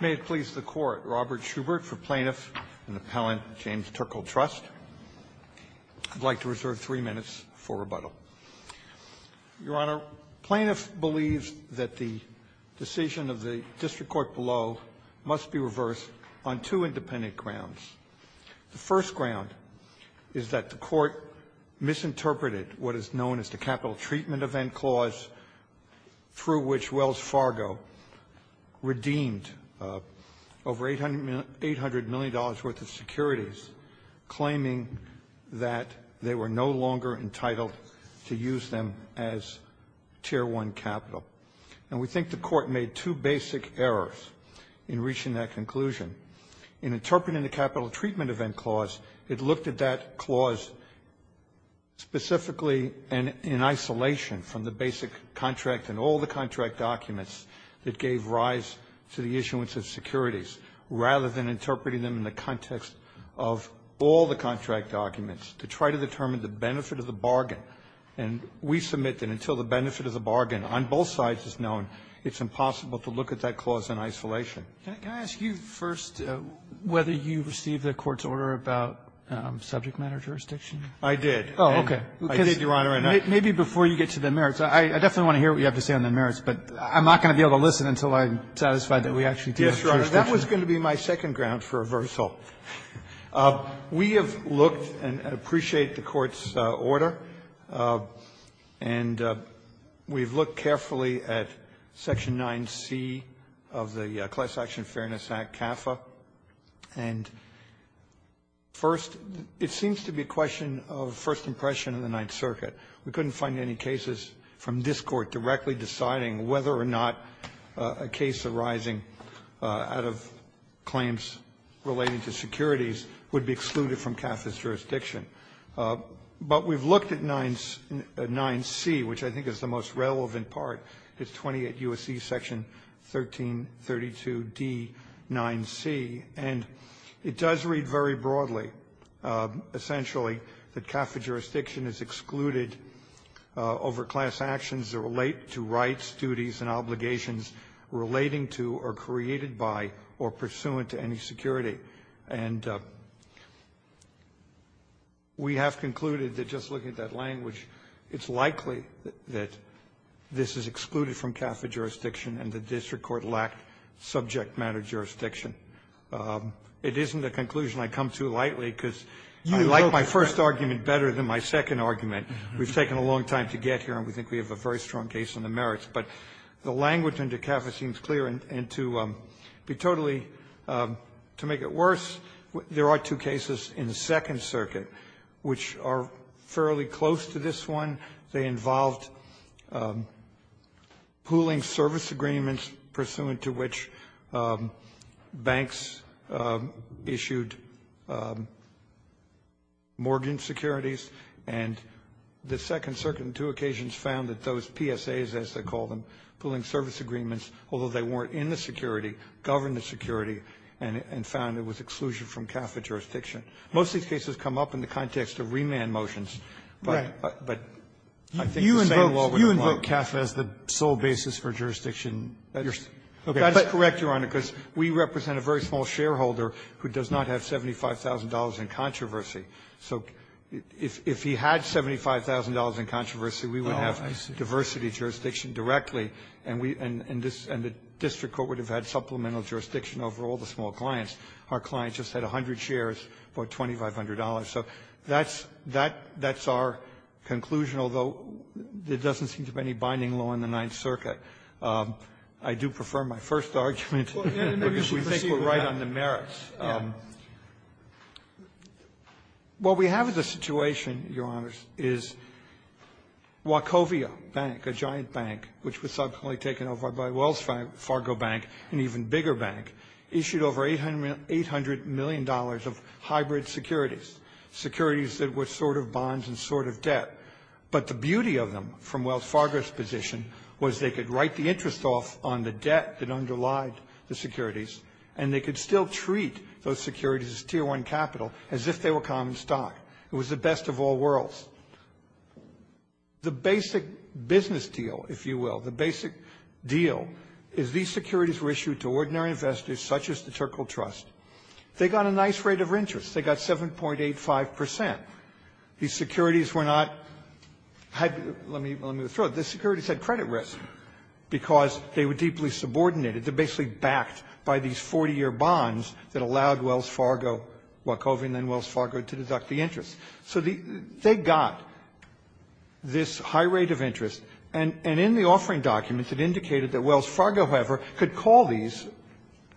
May it please the Court, Robert Schubert for Plaintiff and Appellant James Turkle Trust. I'd like to reserve three minutes for rebuttal. Your Honor, plaintiff believes that the decision of the district court below must be reversed on two independent grounds. The first ground is that the Court misinterpreted what is known as the capital treatment event clause through which Wells Fargo redeemed over $800 million worth of securities, claiming that they were no longer entitled to use them as Tier I capital. And we think the Court made two basic errors in reaching that conclusion. In interpreting the capital treatment event clause, it looked at that clause specifically in isolation from the basic contract and all the contract documents that gave rise to the issuance of securities, rather than interpreting them in the context of all the contract documents to try to determine the benefit of the bargain. And we submit that until the benefit of the bargain on both sides is known, it's impossible to look at that clause in isolation. Roberts, can I ask you first whether you received the Court's order about subject matter jurisdiction? I did. Oh, okay. I did, Your Honor. Maybe before you get to the merits. I definitely want to hear what you have to say on the merits, but I'm not going to be able to listen until I'm satisfied that we actually do have jurisdiction. Yes, Your Honor. That was going to be my second ground for reversal. We have looked and appreciate the Court's order, and we've looked carefully at section 9C of the Class Action Fairness Act, CAFA. And first, it seems to be a question of first impression in the Ninth Circuit. We couldn't find any cases from this Court directly deciding whether or not a case arising out of claims relating to securities would be excluded from CAFA's jurisdiction. But we've looked at 9C, which I think is the most relevant part. It's 28 U.S.C. Section 1332D9C, and it does read very broadly, essentially, that CAFA jurisdiction is excluded over class actions that relate to rights, duties, and obligations relating to or created by or pursuant to any security. And we have concluded that just looking at that language, it's likely that this is excluded from CAFA jurisdiction and the district court lacked subject matter jurisdiction. It isn't a conclusion I come to lightly because I like my first argument better than my second argument. We've taken a long time to get here, and we think we have a very strong case on the merits. But the language under CAFA seems clear, and to be totally to make it worse, there are two cases in the Second Circuit which are fairly close to this one. They involved pooling service agreements pursuant to which banks issued mortgage securities, and the Second Circuit on two occasions found that those PSAs, as they call them, pooling service agreements, although they weren't in the security, governed the security, and found it was exclusion from CAFA jurisdiction. Most of these cases come up in the context of remand motions, but I think the same law would apply. Robertson, You invoke CAFA as the sole basis for jurisdiction. That is correct, Your Honor, because we represent a very small shareholder who does not have $75,000 in controversy. So if he had $75,000 in controversy, we would have diversity jurisdiction directly, and we and the district court would have had supplemental jurisdiction over all the small clients. Our clients just had 100 shares for $2,500. So that's our conclusion, although there doesn't seem to be any binding law in the Ninth Circuit. I do prefer my first argument. We think we're right on the merits. What we have as a situation, Your Honors, is Wachovia Bank, a giant bank, which was subsequently taken over by Wells Fargo Bank, an even bigger bank, issued over $800 million of hybrid securities, securities that were sort of bonds and sort of debt. But the beauty of them, from Wells Fargo's position, was they could write the interest off on the debt that underlied the securities, and they could still treat those securities as tier one capital as if they were common stock. It was the best of all worlds. The basic business deal, if you will, the basic deal is these securities were issued to ordinary investors such as the Terkel Trust. They got a nice rate of interest. They got 7.85%. These securities were not hybrid. Let me throw it. These securities had credit risk because they were deeply subordinated. They're basically backed by these 40-year bonds that allowed Wells Fargo, Wachovia, and then Wells Fargo to deduct the interest. So they got this high rate of interest. And in the offering documents, it indicated that Wells Fargo, however, could call these,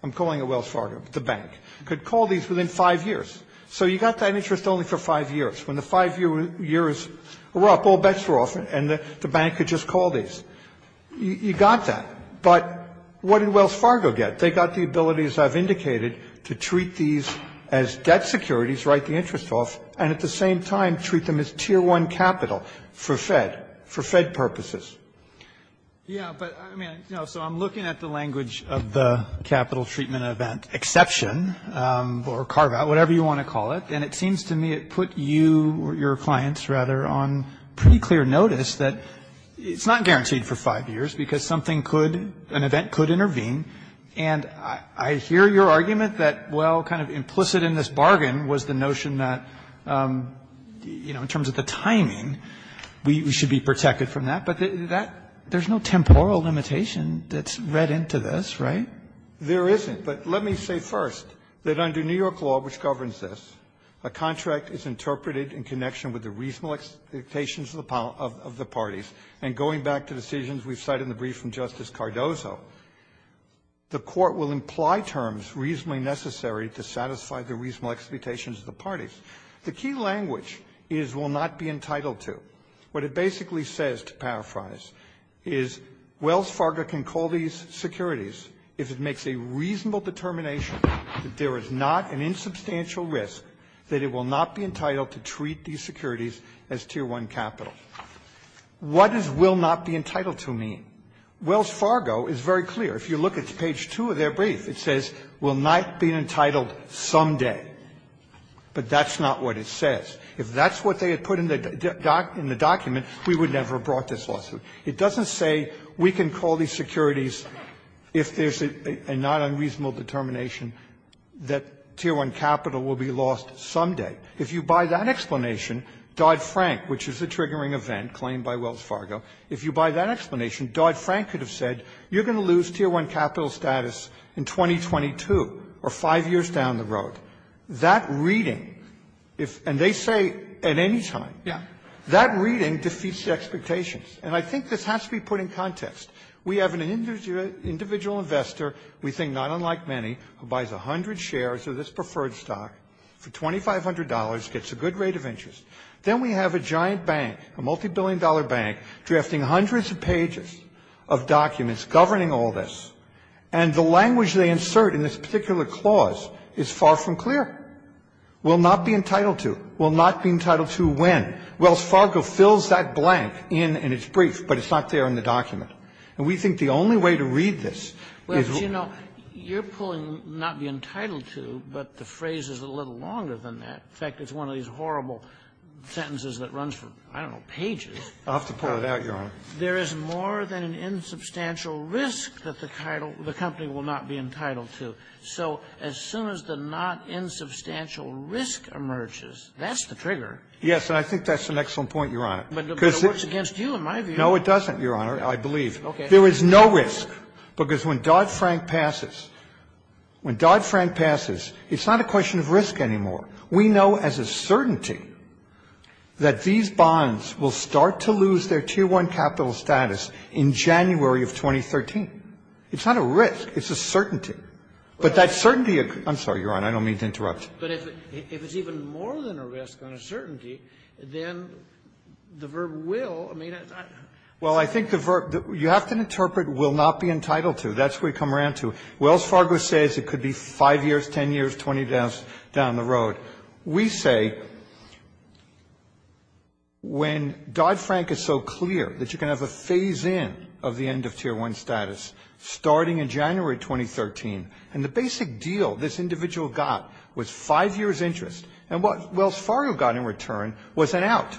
I'm calling it Wells Fargo, the bank, could call these within five years. So you got that interest only for five years. When the five years were up, all bets were off, and the bank could just call these. You got that. But what did Wells Fargo get? They got the ability, as I've indicated, to treat these as debt securities, write the interest off, and at the same time, treat them as Tier 1 capital for Fed purposes. Yeah, but I mean, you know, so I'm looking at the language of the capital treatment event exception or carve out, whatever you want to call it. And it seems to me it put you or your clients rather on pretty clear notice that it's not guaranteed for five years because something could, an event could intervene. And I hear your argument that, well, kind of implicit in this bargain was the notion that, you know, in terms of the timing, we should be protected from that. But that, there's no temporal limitation that's read into this, right? There isn't. But let me say first that under New York law, which governs this, a contract is interpreted in connection with the reasonable expectations of the parties. And going back to decisions we've cited in the brief from Justice Cardozo, the Court will imply terms reasonably necessary to satisfy the reasonable expectations of the parties. The key language is, will not be entitled to. What it basically says, to paraphrase, is Wells Fargo can call these securities if it makes a reasonable determination that there is not an insubstantial risk that it will not be entitled to treat these securities as Tier 1 capital. What does will not be entitled to mean? Wells Fargo is very clear. If you look at page 2 of their brief, it says, will not be entitled someday. But that's not what it says. If that's what they had put in the document, we would never have brought this lawsuit. It doesn't say we can call these securities if there's a non-unreasonable determination that Tier 1 capital will be lost someday. If you buy that explanation, Dodd-Frank, which is a triggering event claimed by Wells Fargo, if you buy that explanation, Dodd-Frank could have said, you're going to lose Tier 1 capital status in 2022, or five years down the road. That reading, and they say at any time, that reading defeats the expectations. And I think this has to be put in context. We have an individual investor, we think not unlike many, who buys 100 shares of this company, gets a good rate of interest, then we have a giant bank, a multi-billion dollar bank, drafting hundreds of pages of documents governing all this, and the language they insert in this particular clause is far from clear. Will not be entitled to, will not be entitled to when. Wells Fargo fills that blank in in its brief, but it's not there in the document. And we think the only way to read this is to go to the next page of the document. In fact, it's one of these horrible sentences that runs for, I don't know, pages. I'll have to pull it out, Your Honor. There is more than an insubstantial risk that the title of the company will not be entitled to. So as soon as the not insubstantial risk emerges, that's the trigger. Yes, and I think that's an excellent point, Your Honor. But it works against you, in my view. No, it doesn't, Your Honor, I believe. Okay. There is no risk, because when Dodd-Frank passes, when Dodd-Frank passes, it's not a question of risk anymore. We know as a certainty that these bonds will start to lose their Tier 1 capital status in January of 2013. It's not a risk. It's a certainty. But that certainty of the — I'm sorry, Your Honor, I don't mean to interrupt. But if it's even more than a risk than a certainty, then the verb will — I mean, it's not — Well, I think the verb — you have to interpret will not be entitled to. That's where you come around to. Wells Fargo says it could be 5 years, 10 years, 20 years down the road. We say when Dodd-Frank is so clear that you can have a phase-in of the end of Tier 1 status starting in January 2013, and the basic deal this individual got was 5 years interest, and what Wells Fargo got in return was an out.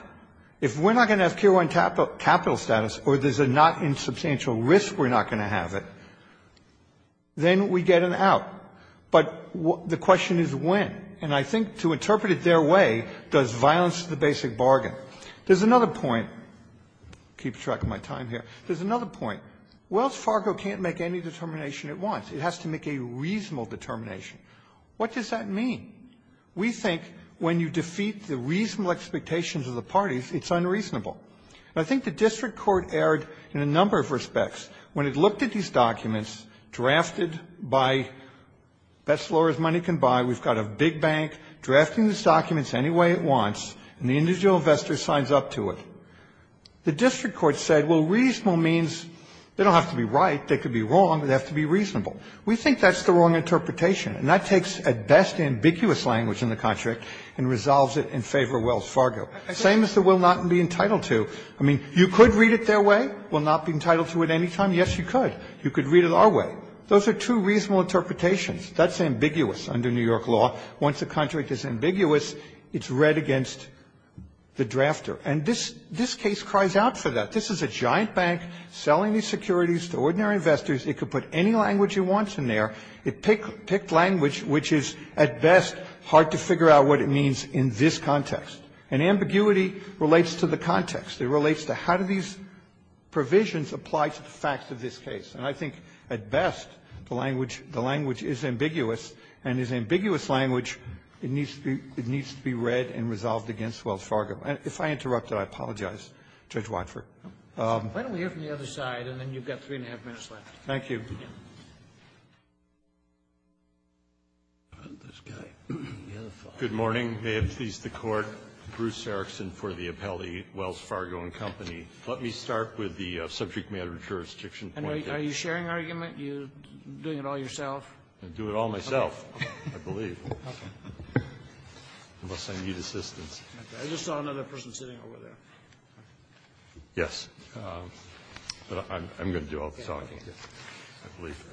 If we're not going to have Tier 1 capital status or there's a not insubstantial risk we're not going to have it, then we get an out. But the question is when. And I think to interpret it their way does violence to the basic bargain. There's another point — keep track of my time here — there's another point. Wells Fargo can't make any determination at once. It has to make a reasonable determination. What does that mean? We think when you defeat the reasonable expectations of the parties, it's unreasonable. I think the district court erred in a number of respects. When it looked at these documents drafted by best lawyers money can buy, we've got a big bank drafting these documents any way it wants, and the individual investor signs up to it. The district court said, well, reasonable means they don't have to be right, they could be wrong, they have to be reasonable. We think that's the wrong interpretation, and that takes at best ambiguous language in the contract and resolves it in favor of Wells Fargo. Same as the will not be entitled to. I mean, you could read it their way, will not be entitled to at any time. Yes, you could. You could read it our way. Those are two reasonable interpretations. That's ambiguous under New York law. Once the contract is ambiguous, it's read against the drafter. And this case cries out for that. This is a giant bank selling these securities to ordinary investors. It could put any language it wants in there. It picked language which is, at best, hard to figure out what it means in this context. And ambiguity relates to the context. It relates to how do these provisions apply to the facts of this case. And I think, at best, the language is ambiguous, and is ambiguous language, it needs to be read and resolved against Wells Fargo. If I interrupted, I apologize, Judge Watford. Scalia. Why don't we hear from the other side, and then you've got three and a half minutes left. Thank you. This guy. The other side. Good morning. May it please the Court. Bruce Erickson for the appellee, Wells Fargo and Company. Let me start with the subject-matter jurisdiction point. And are you sharing argument? You're doing it all yourself? I do it all myself, I believe, unless I need assistance. I just saw another person sitting over there. Yes. But I'm going to do all the talking, I believe.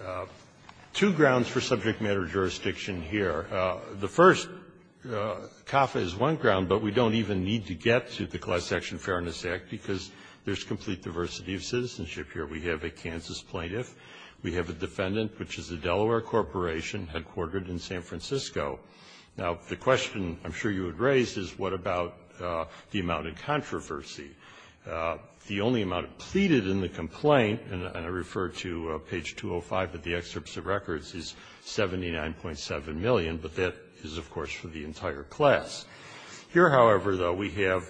Two grounds for subject-matter jurisdiction here. The first, CAFA is one ground, but we don't even need to get to the Class Action Fairness Act, because there's complete diversity of citizenship here. We have a Kansas plaintiff. We have a defendant, which is a Delaware corporation, headquartered in San Francisco. Now, the question I'm sure you had raised is what about the amount of controversy? The only amount pleaded in the complaint, and I refer to page 205 of the excerpts of records, is $79.7 million, but that is, of course, for the entire class. Here, however, though, we have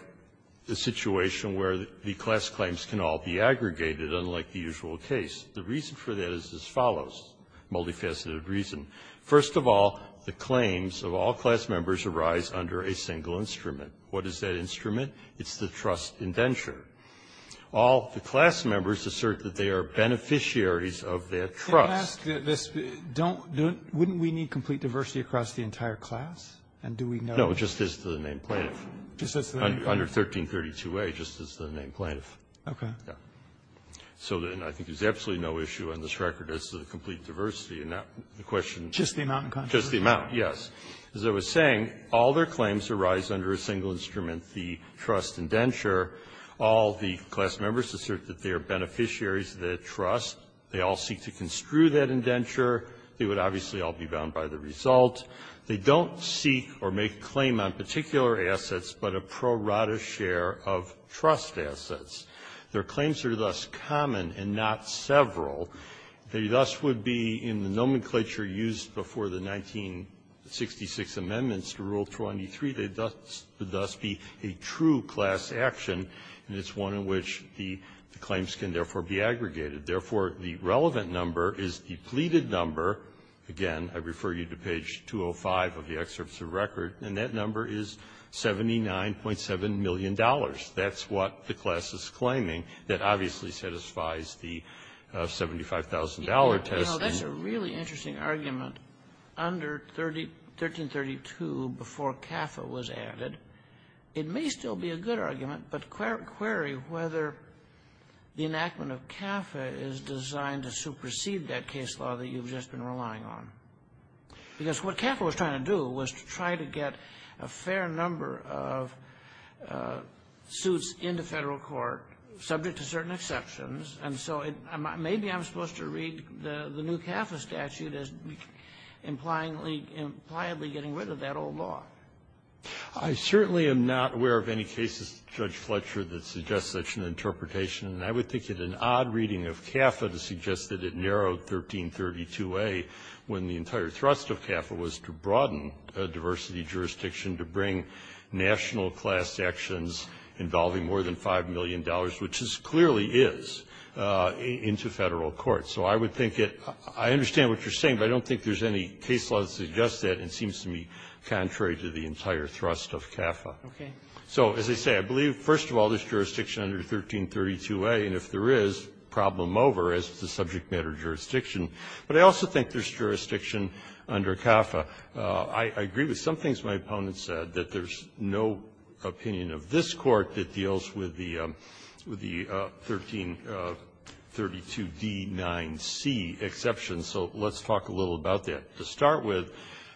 a situation where the class claims can all be aggregated, unlike the usual case. The reason for that is as follows, multifaceted reason. First of all, the claims of all class members arise under a single instrument. What is that instrument? It's the trust indenture. All the class members assert that they are beneficiaries of that trust. Sotomayor, wouldn't we need complete diversity across the entire class, and do we know that? No, just as to the name plaintiff. Under 1332a, just as to the name plaintiff. Okay. Yeah. So then I think there's absolutely no issue on this record as to the complete diversity, and that's the question. Just the amount of controversy? Just the amount, yes. As I was saying, all their claims arise under a single instrument, the trust indenture. All the class members assert that they are beneficiaries of that trust. They all seek to construe that indenture. They would obviously all be bound by the result. They don't seek or make a claim on particular assets, but a pro rata share of trust assets. Their claims are thus common and not several. They thus would be in the nomenclature used before the 1966 amendments to Rule 23. They thus would thus be a true class action, and it's one in which the claims can therefore be aggregated. Therefore, the relevant number is the pleaded number. Again, I refer you to page 205 of the excerpts of record, and that number is $79.7 million. That's what the class is claiming. That obviously satisfies the $75,000 test. That's a really interesting argument. Under 1332, before CAFA was added, it may still be a good argument, but query whether the enactment of CAFA is designed to supersede that case law that you've just been relying on. Because what CAFA was trying to do was to try to get a fair number of suits into Federal court subject to certain exceptions, and so it may be I'm supposed to read the new CAFA statute as implyingly, impliedly getting rid of that old law. I certainly am not aware of any cases, Judge Fletcher, that suggest such an interpretation. And I would think it an odd reading of CAFA to suggest that it narrowed 1332a when the entire thrust of CAFA was to broaden diversity jurisdiction, to bring national class actions involving more than $5 million, which clearly is, into Federal court. So I would think it — I understand what you're saying, but I don't think there's any case law that suggests that, and it seems to me contrary to the entire thrust of CAFA. So as I say, I believe, first of all, there's jurisdiction under 1332a, and if there is, problem over, as is the subject matter jurisdiction. But I also think there's jurisdiction under CAFA. I agree with some things my opponent said, that there's no opinion of this Court that deals with the — with the 1332d-9c exception. So let's talk a little about that. To start with,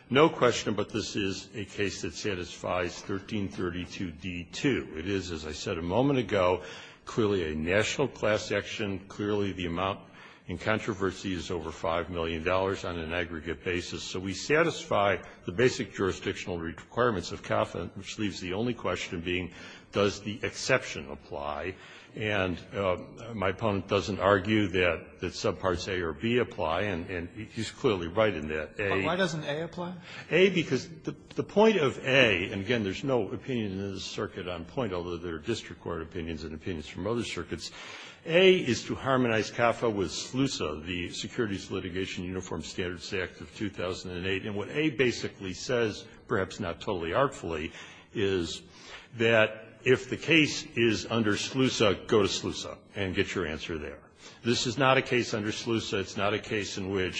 no question, but this is a case that satisfies 1332d-2. It is, as I said a moment ago, clearly a national class action. Clearly, the amount in controversy is over $5 million on an aggregate basis. So we satisfy the basic jurisdictional requirements of CAFA, which leaves the only question being, does the exception apply? And my opponent doesn't argue that subparts a or b apply, and he's clearly right in that. But why doesn't a apply? a, because the point of a, and again, there's no opinion in this circuit on point, although there are district court opinions and opinions from other circuits, a is to harmonize CAFA with SLUSA, the Securities Litigation Uniform Standards Act of 2008. And what a basically says, perhaps not totally artfully, is that if the case is under SLUSA, go to SLUSA and get your answer there. This is not a case under SLUSA where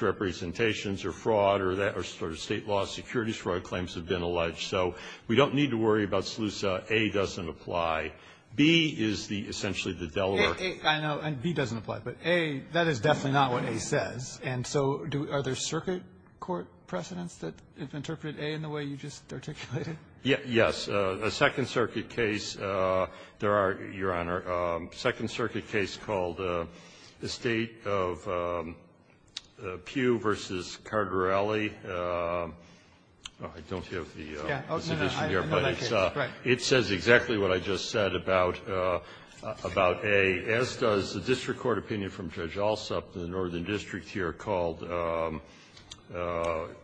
representations or fraud or that or State law security fraud claims have been alleged. So we don't need to worry about SLUSA. a doesn't apply. b is the essentially the Delaware ---- Robertson, I know, and b doesn't apply, but a, that is definitely not what a says. And so do other circuit court precedents that interpret a in the way you just articulated? SmithYes. A Second Circuit case, there are, Your Honor, a Second Circuit case called the State of Pew v. Cardarelli. I don't have the submission here, but it says exactly what I just said about a, as does the district court opinion from Judge Alsop in the Northern District here called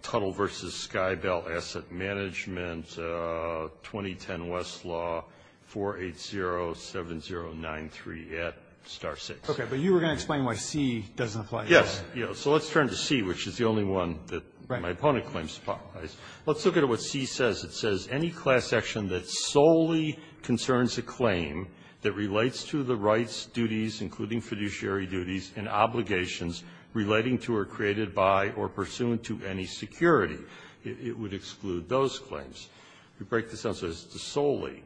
Tuttle v. Skybell Asset Management, 2010 West Law, 4807093 at star 6. RobertsonOkay. But you were going to explain why c doesn't apply. SmithYes. So let's turn to c, which is the only one that my opponent claims to apply. Let's look at what c says. It says any class action that solely concerns a claim that relates to the rights, duties, including fiduciary duties, and obligations relating to or created by or pursuant to any security, it would exclude those claims. We break this down so it's solely.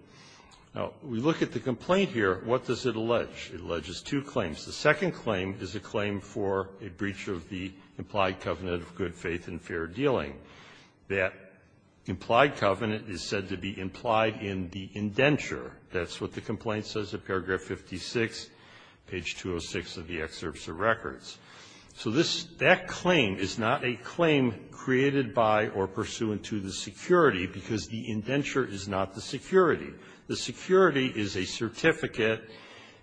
Now, we look at the complaint here. What does it allege? It alleges two claims. The second claim is a claim for a breach of the implied covenant of good faith and fair dealing. That implied covenant is said to be implied in the indenture. That's what the complaint says at paragraph 56, page 206 of the excerpts of records. So this, that claim is not a claim created by or pursuant to the security, because the indenture is not the security. The security is a certificate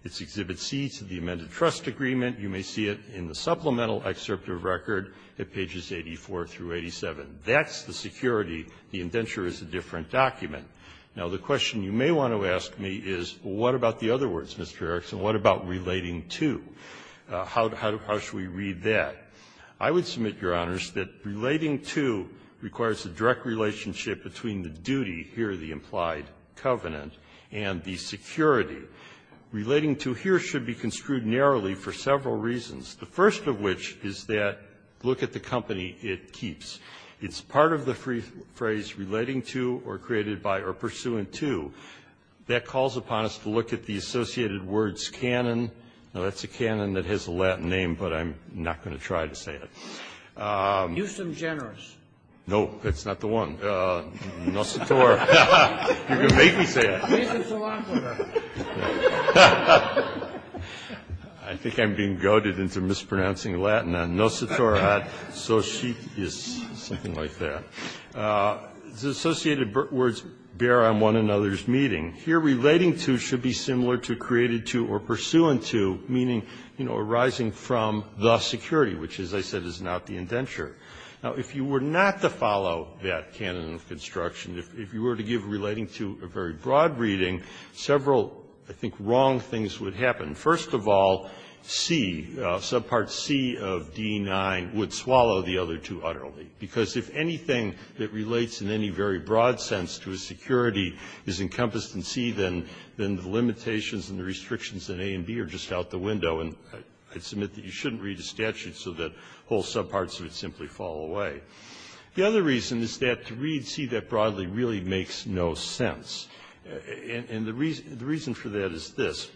that is Exhibit C to the amended trust agreement. You may see it in the supplemental excerpt of record at pages 84 through 87. That's the security. The indenture is a different document. Now, the question you may want to ask me is, what about the other words, Mr. Erickson, what about relating to? How should we read that? I would submit, Your Honors, that relating to requires a direct relationship between the duty, here the implied covenant, and the security. Relating to here should be construed narrowly for several reasons, the first of which is that, look at the company it keeps. It's part of the phrase relating to or created by or pursuant to. That calls upon us to look at the associated words canon. Now, that's a canon that has a Latin name, but I'm not going to try to say it. Huston Generous. No, that's not the one. Nocitor. You're going to make me say it. Reason Philophober. I think I'm being goaded into mispronouncing Latin. Nocitorat, so she, is something like that. The associated words bear on one another's meeting. Here, relating to should be similar to created to or pursuant to, meaning, you know, arising from the security, which, as I said, is not the indenture. Now, if you were not to follow that canon of construction, if you were to give relating to a very broad reading, several, I think, wrong things would happen. First of all, C, subpart C of D9 would swallow the other two utterly, because if anything that relates in any very broad sense to a security is encompassed in C, then the limitations and A and B are just out the window, and I submit that you shouldn't read a statute so that whole subparts would simply fall away. The other reason is that to read C that broadly really makes no sense. And the reason for that is this.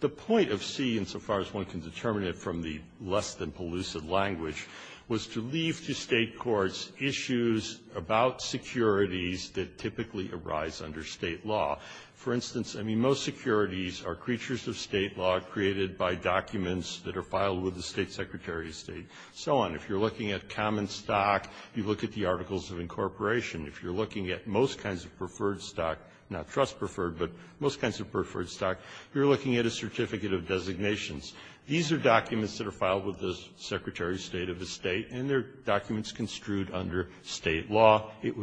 The point of C, insofar as one can determine it from the less-than-pellucid language, was to leave to State courts issues about securities that typically arise under State law. For instance, I mean, most securities are creatures of State law created by documents that are filed with the State Secretary of State, so on. If you're looking at common stock, you look at the Articles of Incorporation. If you're looking at most kinds of preferred stock, not trust-preferred, but most kinds of preferred stock, you're looking at a Certificate of Designations. These are documents that are filed with the Secretary of State of the State, and they're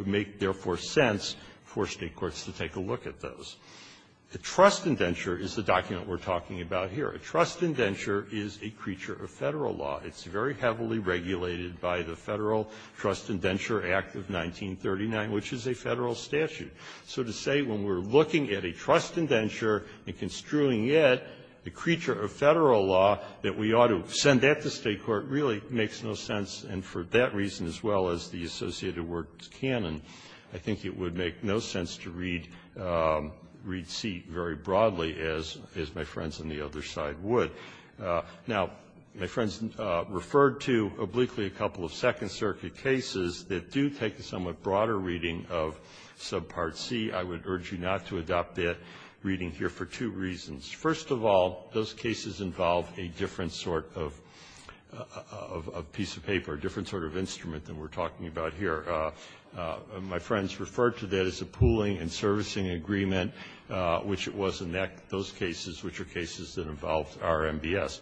make, therefore, sense for State courts to take a look at those. A trust indenture is the document we're talking about here. A trust indenture is a creature of Federal law. It's very heavily regulated by the Federal Trust Indenture Act of 1939, which is a Federal statute. So to say when we're looking at a trust indenture and construing it, the creature of Federal law, that we ought to send that to State court really makes no sense, and for that reason, as well as the associated words, canon, I think it would make no sense to read C very broadly, as my friends on the other side would. Now, my friends referred to obliquely a couple of Second Circuit cases that do take a somewhat broader reading of Subpart C. I would urge you not to adopt that reading here for two reasons. First of all, those cases involve a different sort of piece of paper. A different sort of instrument than we're talking about here. My friends referred to that as a pooling and servicing agreement, which it was in those cases, which are cases that involved RMBS.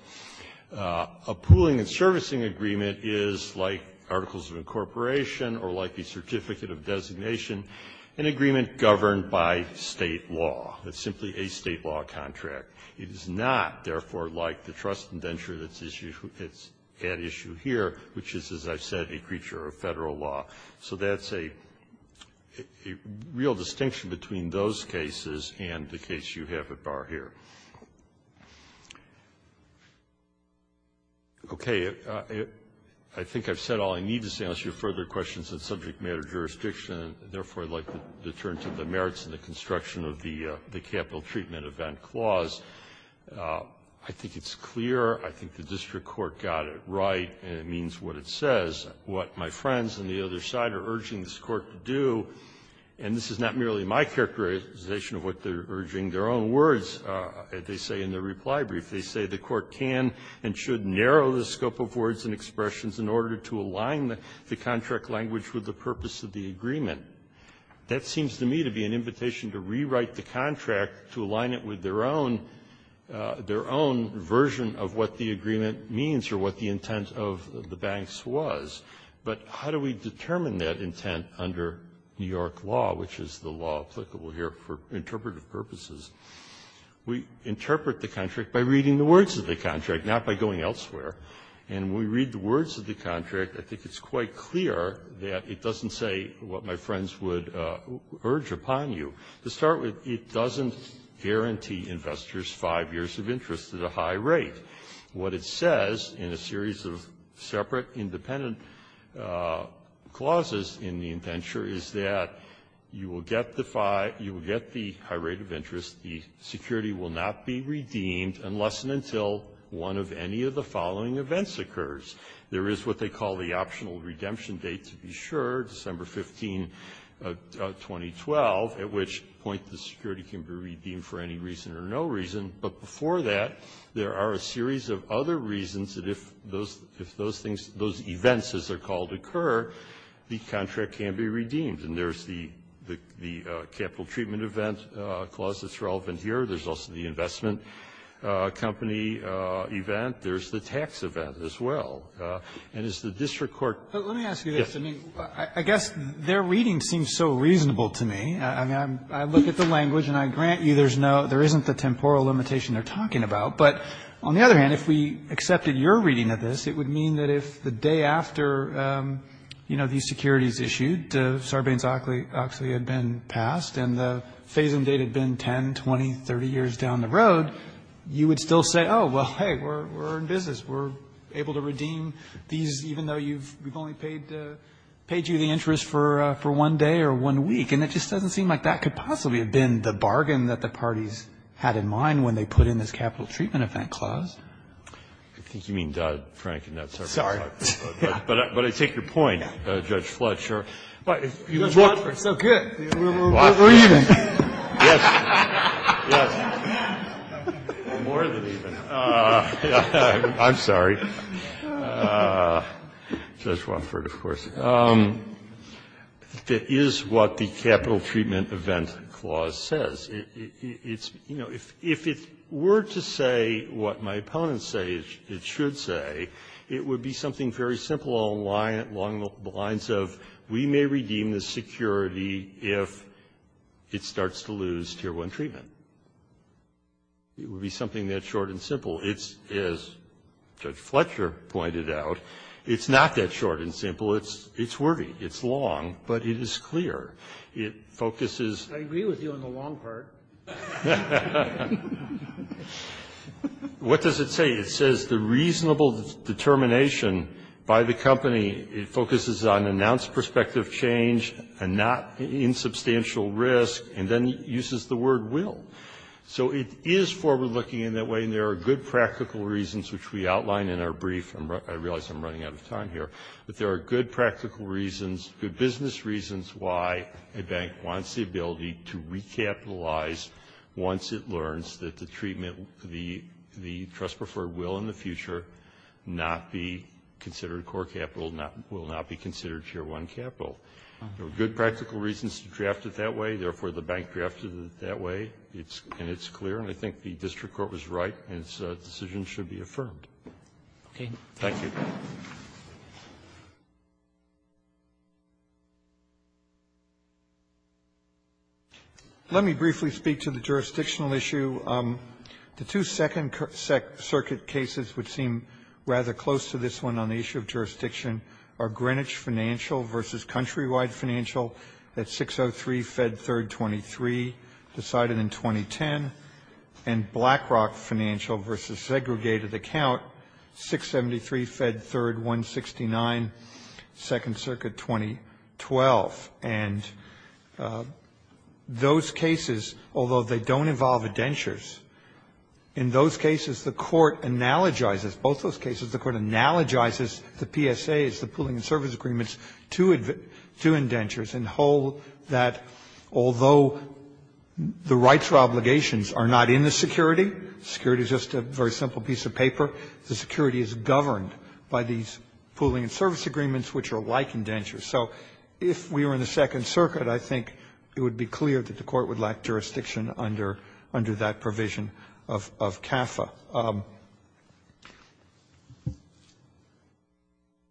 A pooling and servicing agreement is like articles of incorporation or like a certificate of designation, an agreement governed by State law. It's simply a State law contract. It is not, therefore, like the trust indenture that's at issue here, which is a creature of Federal law. So that's a real distinction between those cases and the case you have at bar here. Okay. I think I've said all I need to say unless you have further questions on subject matter jurisdiction, and, therefore, I'd like to turn to the merits and the construction of the Capital Treatment Event Clause. I think it's clear. I think the district court got it right, and it means what it says. What my friends on the other side are urging this Court to do, and this is not merely my characterization of what they're urging, their own words, they say in the reply brief, they say the Court can and should narrow the scope of words and expressions in order to align the contract language with the purpose of the agreement. That seems to me to be an invitation to rewrite the contract to align it with their own version of what the agreement means or what the intent of the banks was. But how do we determine that intent under New York law, which is the law applicable here for interpretive purposes? We interpret the contract by reading the words of the contract, not by going elsewhere. And when we read the words of the contract, I think it's quite clear that it doesn't say what my friends would urge upon you. To start with, it doesn't guarantee investors five years of interest at a high rate. What it says in a series of separate independent clauses in the indenture is that you will get the high rate of interest, the security will not be redeemed unless and until one of any of the following events occurs. There is what they call the optional redemption date, to be sure, December 15th, 2012, at which point the security can be redeemed for any reason or no reason. But before that, there are a series of other reasons that if those things, those events, as they're called, occur, the contract can be redeemed. And there's the capital treatment event clause that's relevant here. There's also the investment company event. There's the tax event as well. And as the district court I guess their reading seems so reasonable to me. I mean, I look at the language and I grant you there's no, there isn't the temporal limitation they're talking about. But on the other hand, if we accepted your reading of this, it would mean that if the day after, you know, these securities issued, Sarbanes-Oxley had been passed and the phase-in date had been 10, 20, 30 years down the road, you would still say, oh, well, that's okay. We're in business. We're able to redeem these even though we've only paid you the interest for one day or one week. And it just doesn't seem like that could possibly have been the bargain that the parties had in mind when they put in this capital treatment event clause. I think you mean Dodd-Frank and not Sarbanes-Oxley. Sorry. But I take your point, Judge Fletcher. Judge Wofford, so good. We're even. Yes. Yes. More than even. I'm sorry. Judge Wofford, of course. It is what the capital treatment event clause says. It's, you know, if it were to say what my opponents say it should say, it would be something very simple along the lines of we may redeem the security if it starts to lose Tier 1 treatment. It would be something that short and simple. It's, as Judge Fletcher pointed out, it's not that short and simple. It's worthy. It's long. But it is clear. It focuses. I agree with you on the long part. What does it say? It says the reasonable determination by the company, it focuses on announced prospective change and not insubstantial risk, and then uses the word will. So it is forward-looking in that way, and there are good practical reasons, which we outline in our brief. I realize I'm running out of time here. But there are good practical reasons, good business reasons why a bank wants the future not be considered core capital, will not be considered Tier 1 capital. There are good practical reasons to draft it that way. Therefore, the bank drafted it that way. And it's clear. And I think the district court was right. And its decision should be affirmed. Thank you. Let me briefly speak to the jurisdictional issue. The two Second Circuit cases which seem rather close to this one on the issue of jurisdiction are Greenwich Financial versus Countrywide Financial at 603 Fed 3rd 23, decided in 2010, and BlackRock Financial versus Segregated Account, 673 Fed 3rd 169, Second Circuit 2012. And those cases, although they don't involve indentures, in those cases the court analogizes, both those cases the court analogizes the PSAs, the pooling and service agreements, to indentures and hold that although the rights or obligations are not in the security, security is just a very simple piece of paper, the security is governed by these pooling and service agreements, which are like indentures. So if we were in the Second Circuit, I think it would be clear that the court would lack jurisdiction under that provision of CAFA.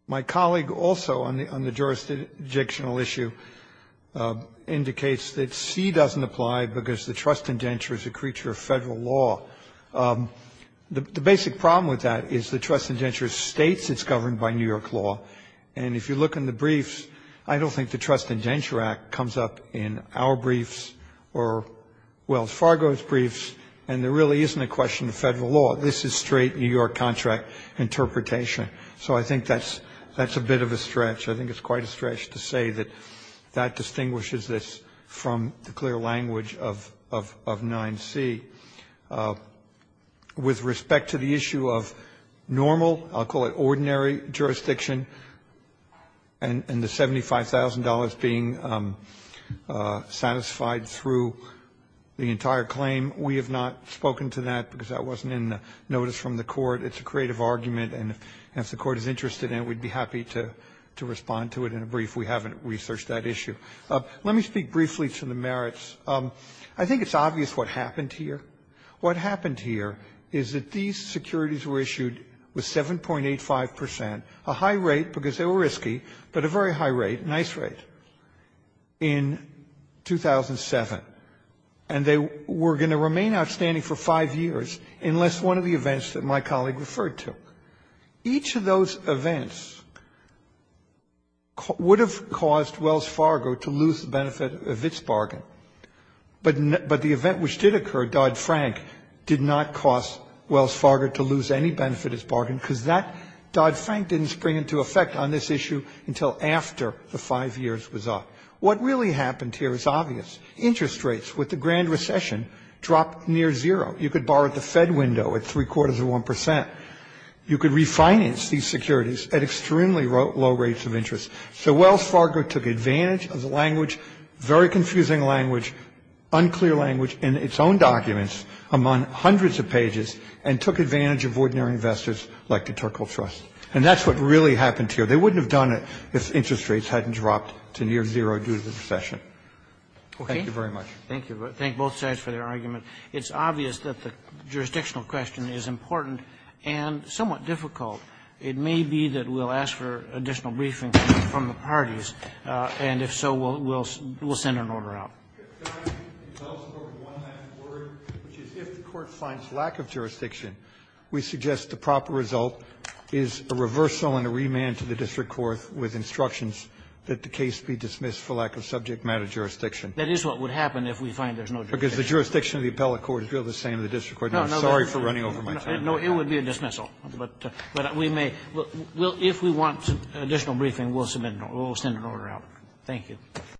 My colleague also on the jurisdictional issue indicates that C doesn't apply because the trust indenture is a creature of federal law. The basic problem with that is the trust indenture states it's governed by New York law, and if you look in the briefs, I don't think the trust indenture act comes up in our briefs or Wells Fargo's briefs, and there really isn't a question of federal law. This is straight New York contract interpretation. So I think that's a bit of a stretch. I think it's quite a stretch to say that that distinguishes this from the clear language of 9C. With respect to the issue of normal, I'll call it ordinary jurisdiction, and the $75,000 being satisfied through the entire claim, we have not spoken to that because that wasn't in the notice from the court. It's a creative argument, and if the court is interested in it, we'd be happy to respond to it in a brief. We haven't researched that issue. Let me speak briefly to the merits. I think it's obvious what happened here. What happened here is that these securities were issued with 7.85 percent, a high rate because they were risky, but a very high rate, a nice rate, in 2007, and they were going to remain outstanding for five years unless one of the events that my colleague referred to. Each of those events would have caused Wells Fargo to lose the benefit of its bargain, but the event which did occur, Dodd-Frank, did not cause Wells Fargo to lose any benefit of its bargain because Dodd-Frank didn't spring into effect on this issue until after the five years was up. What really happened here is obvious. Interest rates with the grand recession dropped near zero. You could borrow at the Fed window at three-quarters of 1 percent. You could refinance these securities at extremely low rates of interest. So Wells Fargo took advantage of the language, very confusing language, unclear language in its own documents among hundreds of pages, and took advantage of ordinary investors like the Terkel Trust. And that's what really happened here. They wouldn't have done it if interest rates hadn't dropped to near zero due to the recession. Thank you very much. Thank you. Thank both sides for their argument. It's obvious that the jurisdictional question is important and somewhat difficult. It may be that we'll ask for additional briefing from the parties. And if so, we'll send an order out. If the court finds lack of jurisdiction, we suggest the proper result is a reversal and a remand to the district court with instructions that the case be dismissed for lack of subject matter jurisdiction. That is what would happen if we find there's no jurisdiction. Because the jurisdiction of the appellate court is still the same as the district court. No, no. I'm sorry for running over my time. No, it would be a dismissal. But we may. If we want additional briefing, we'll send an order out. Thank you.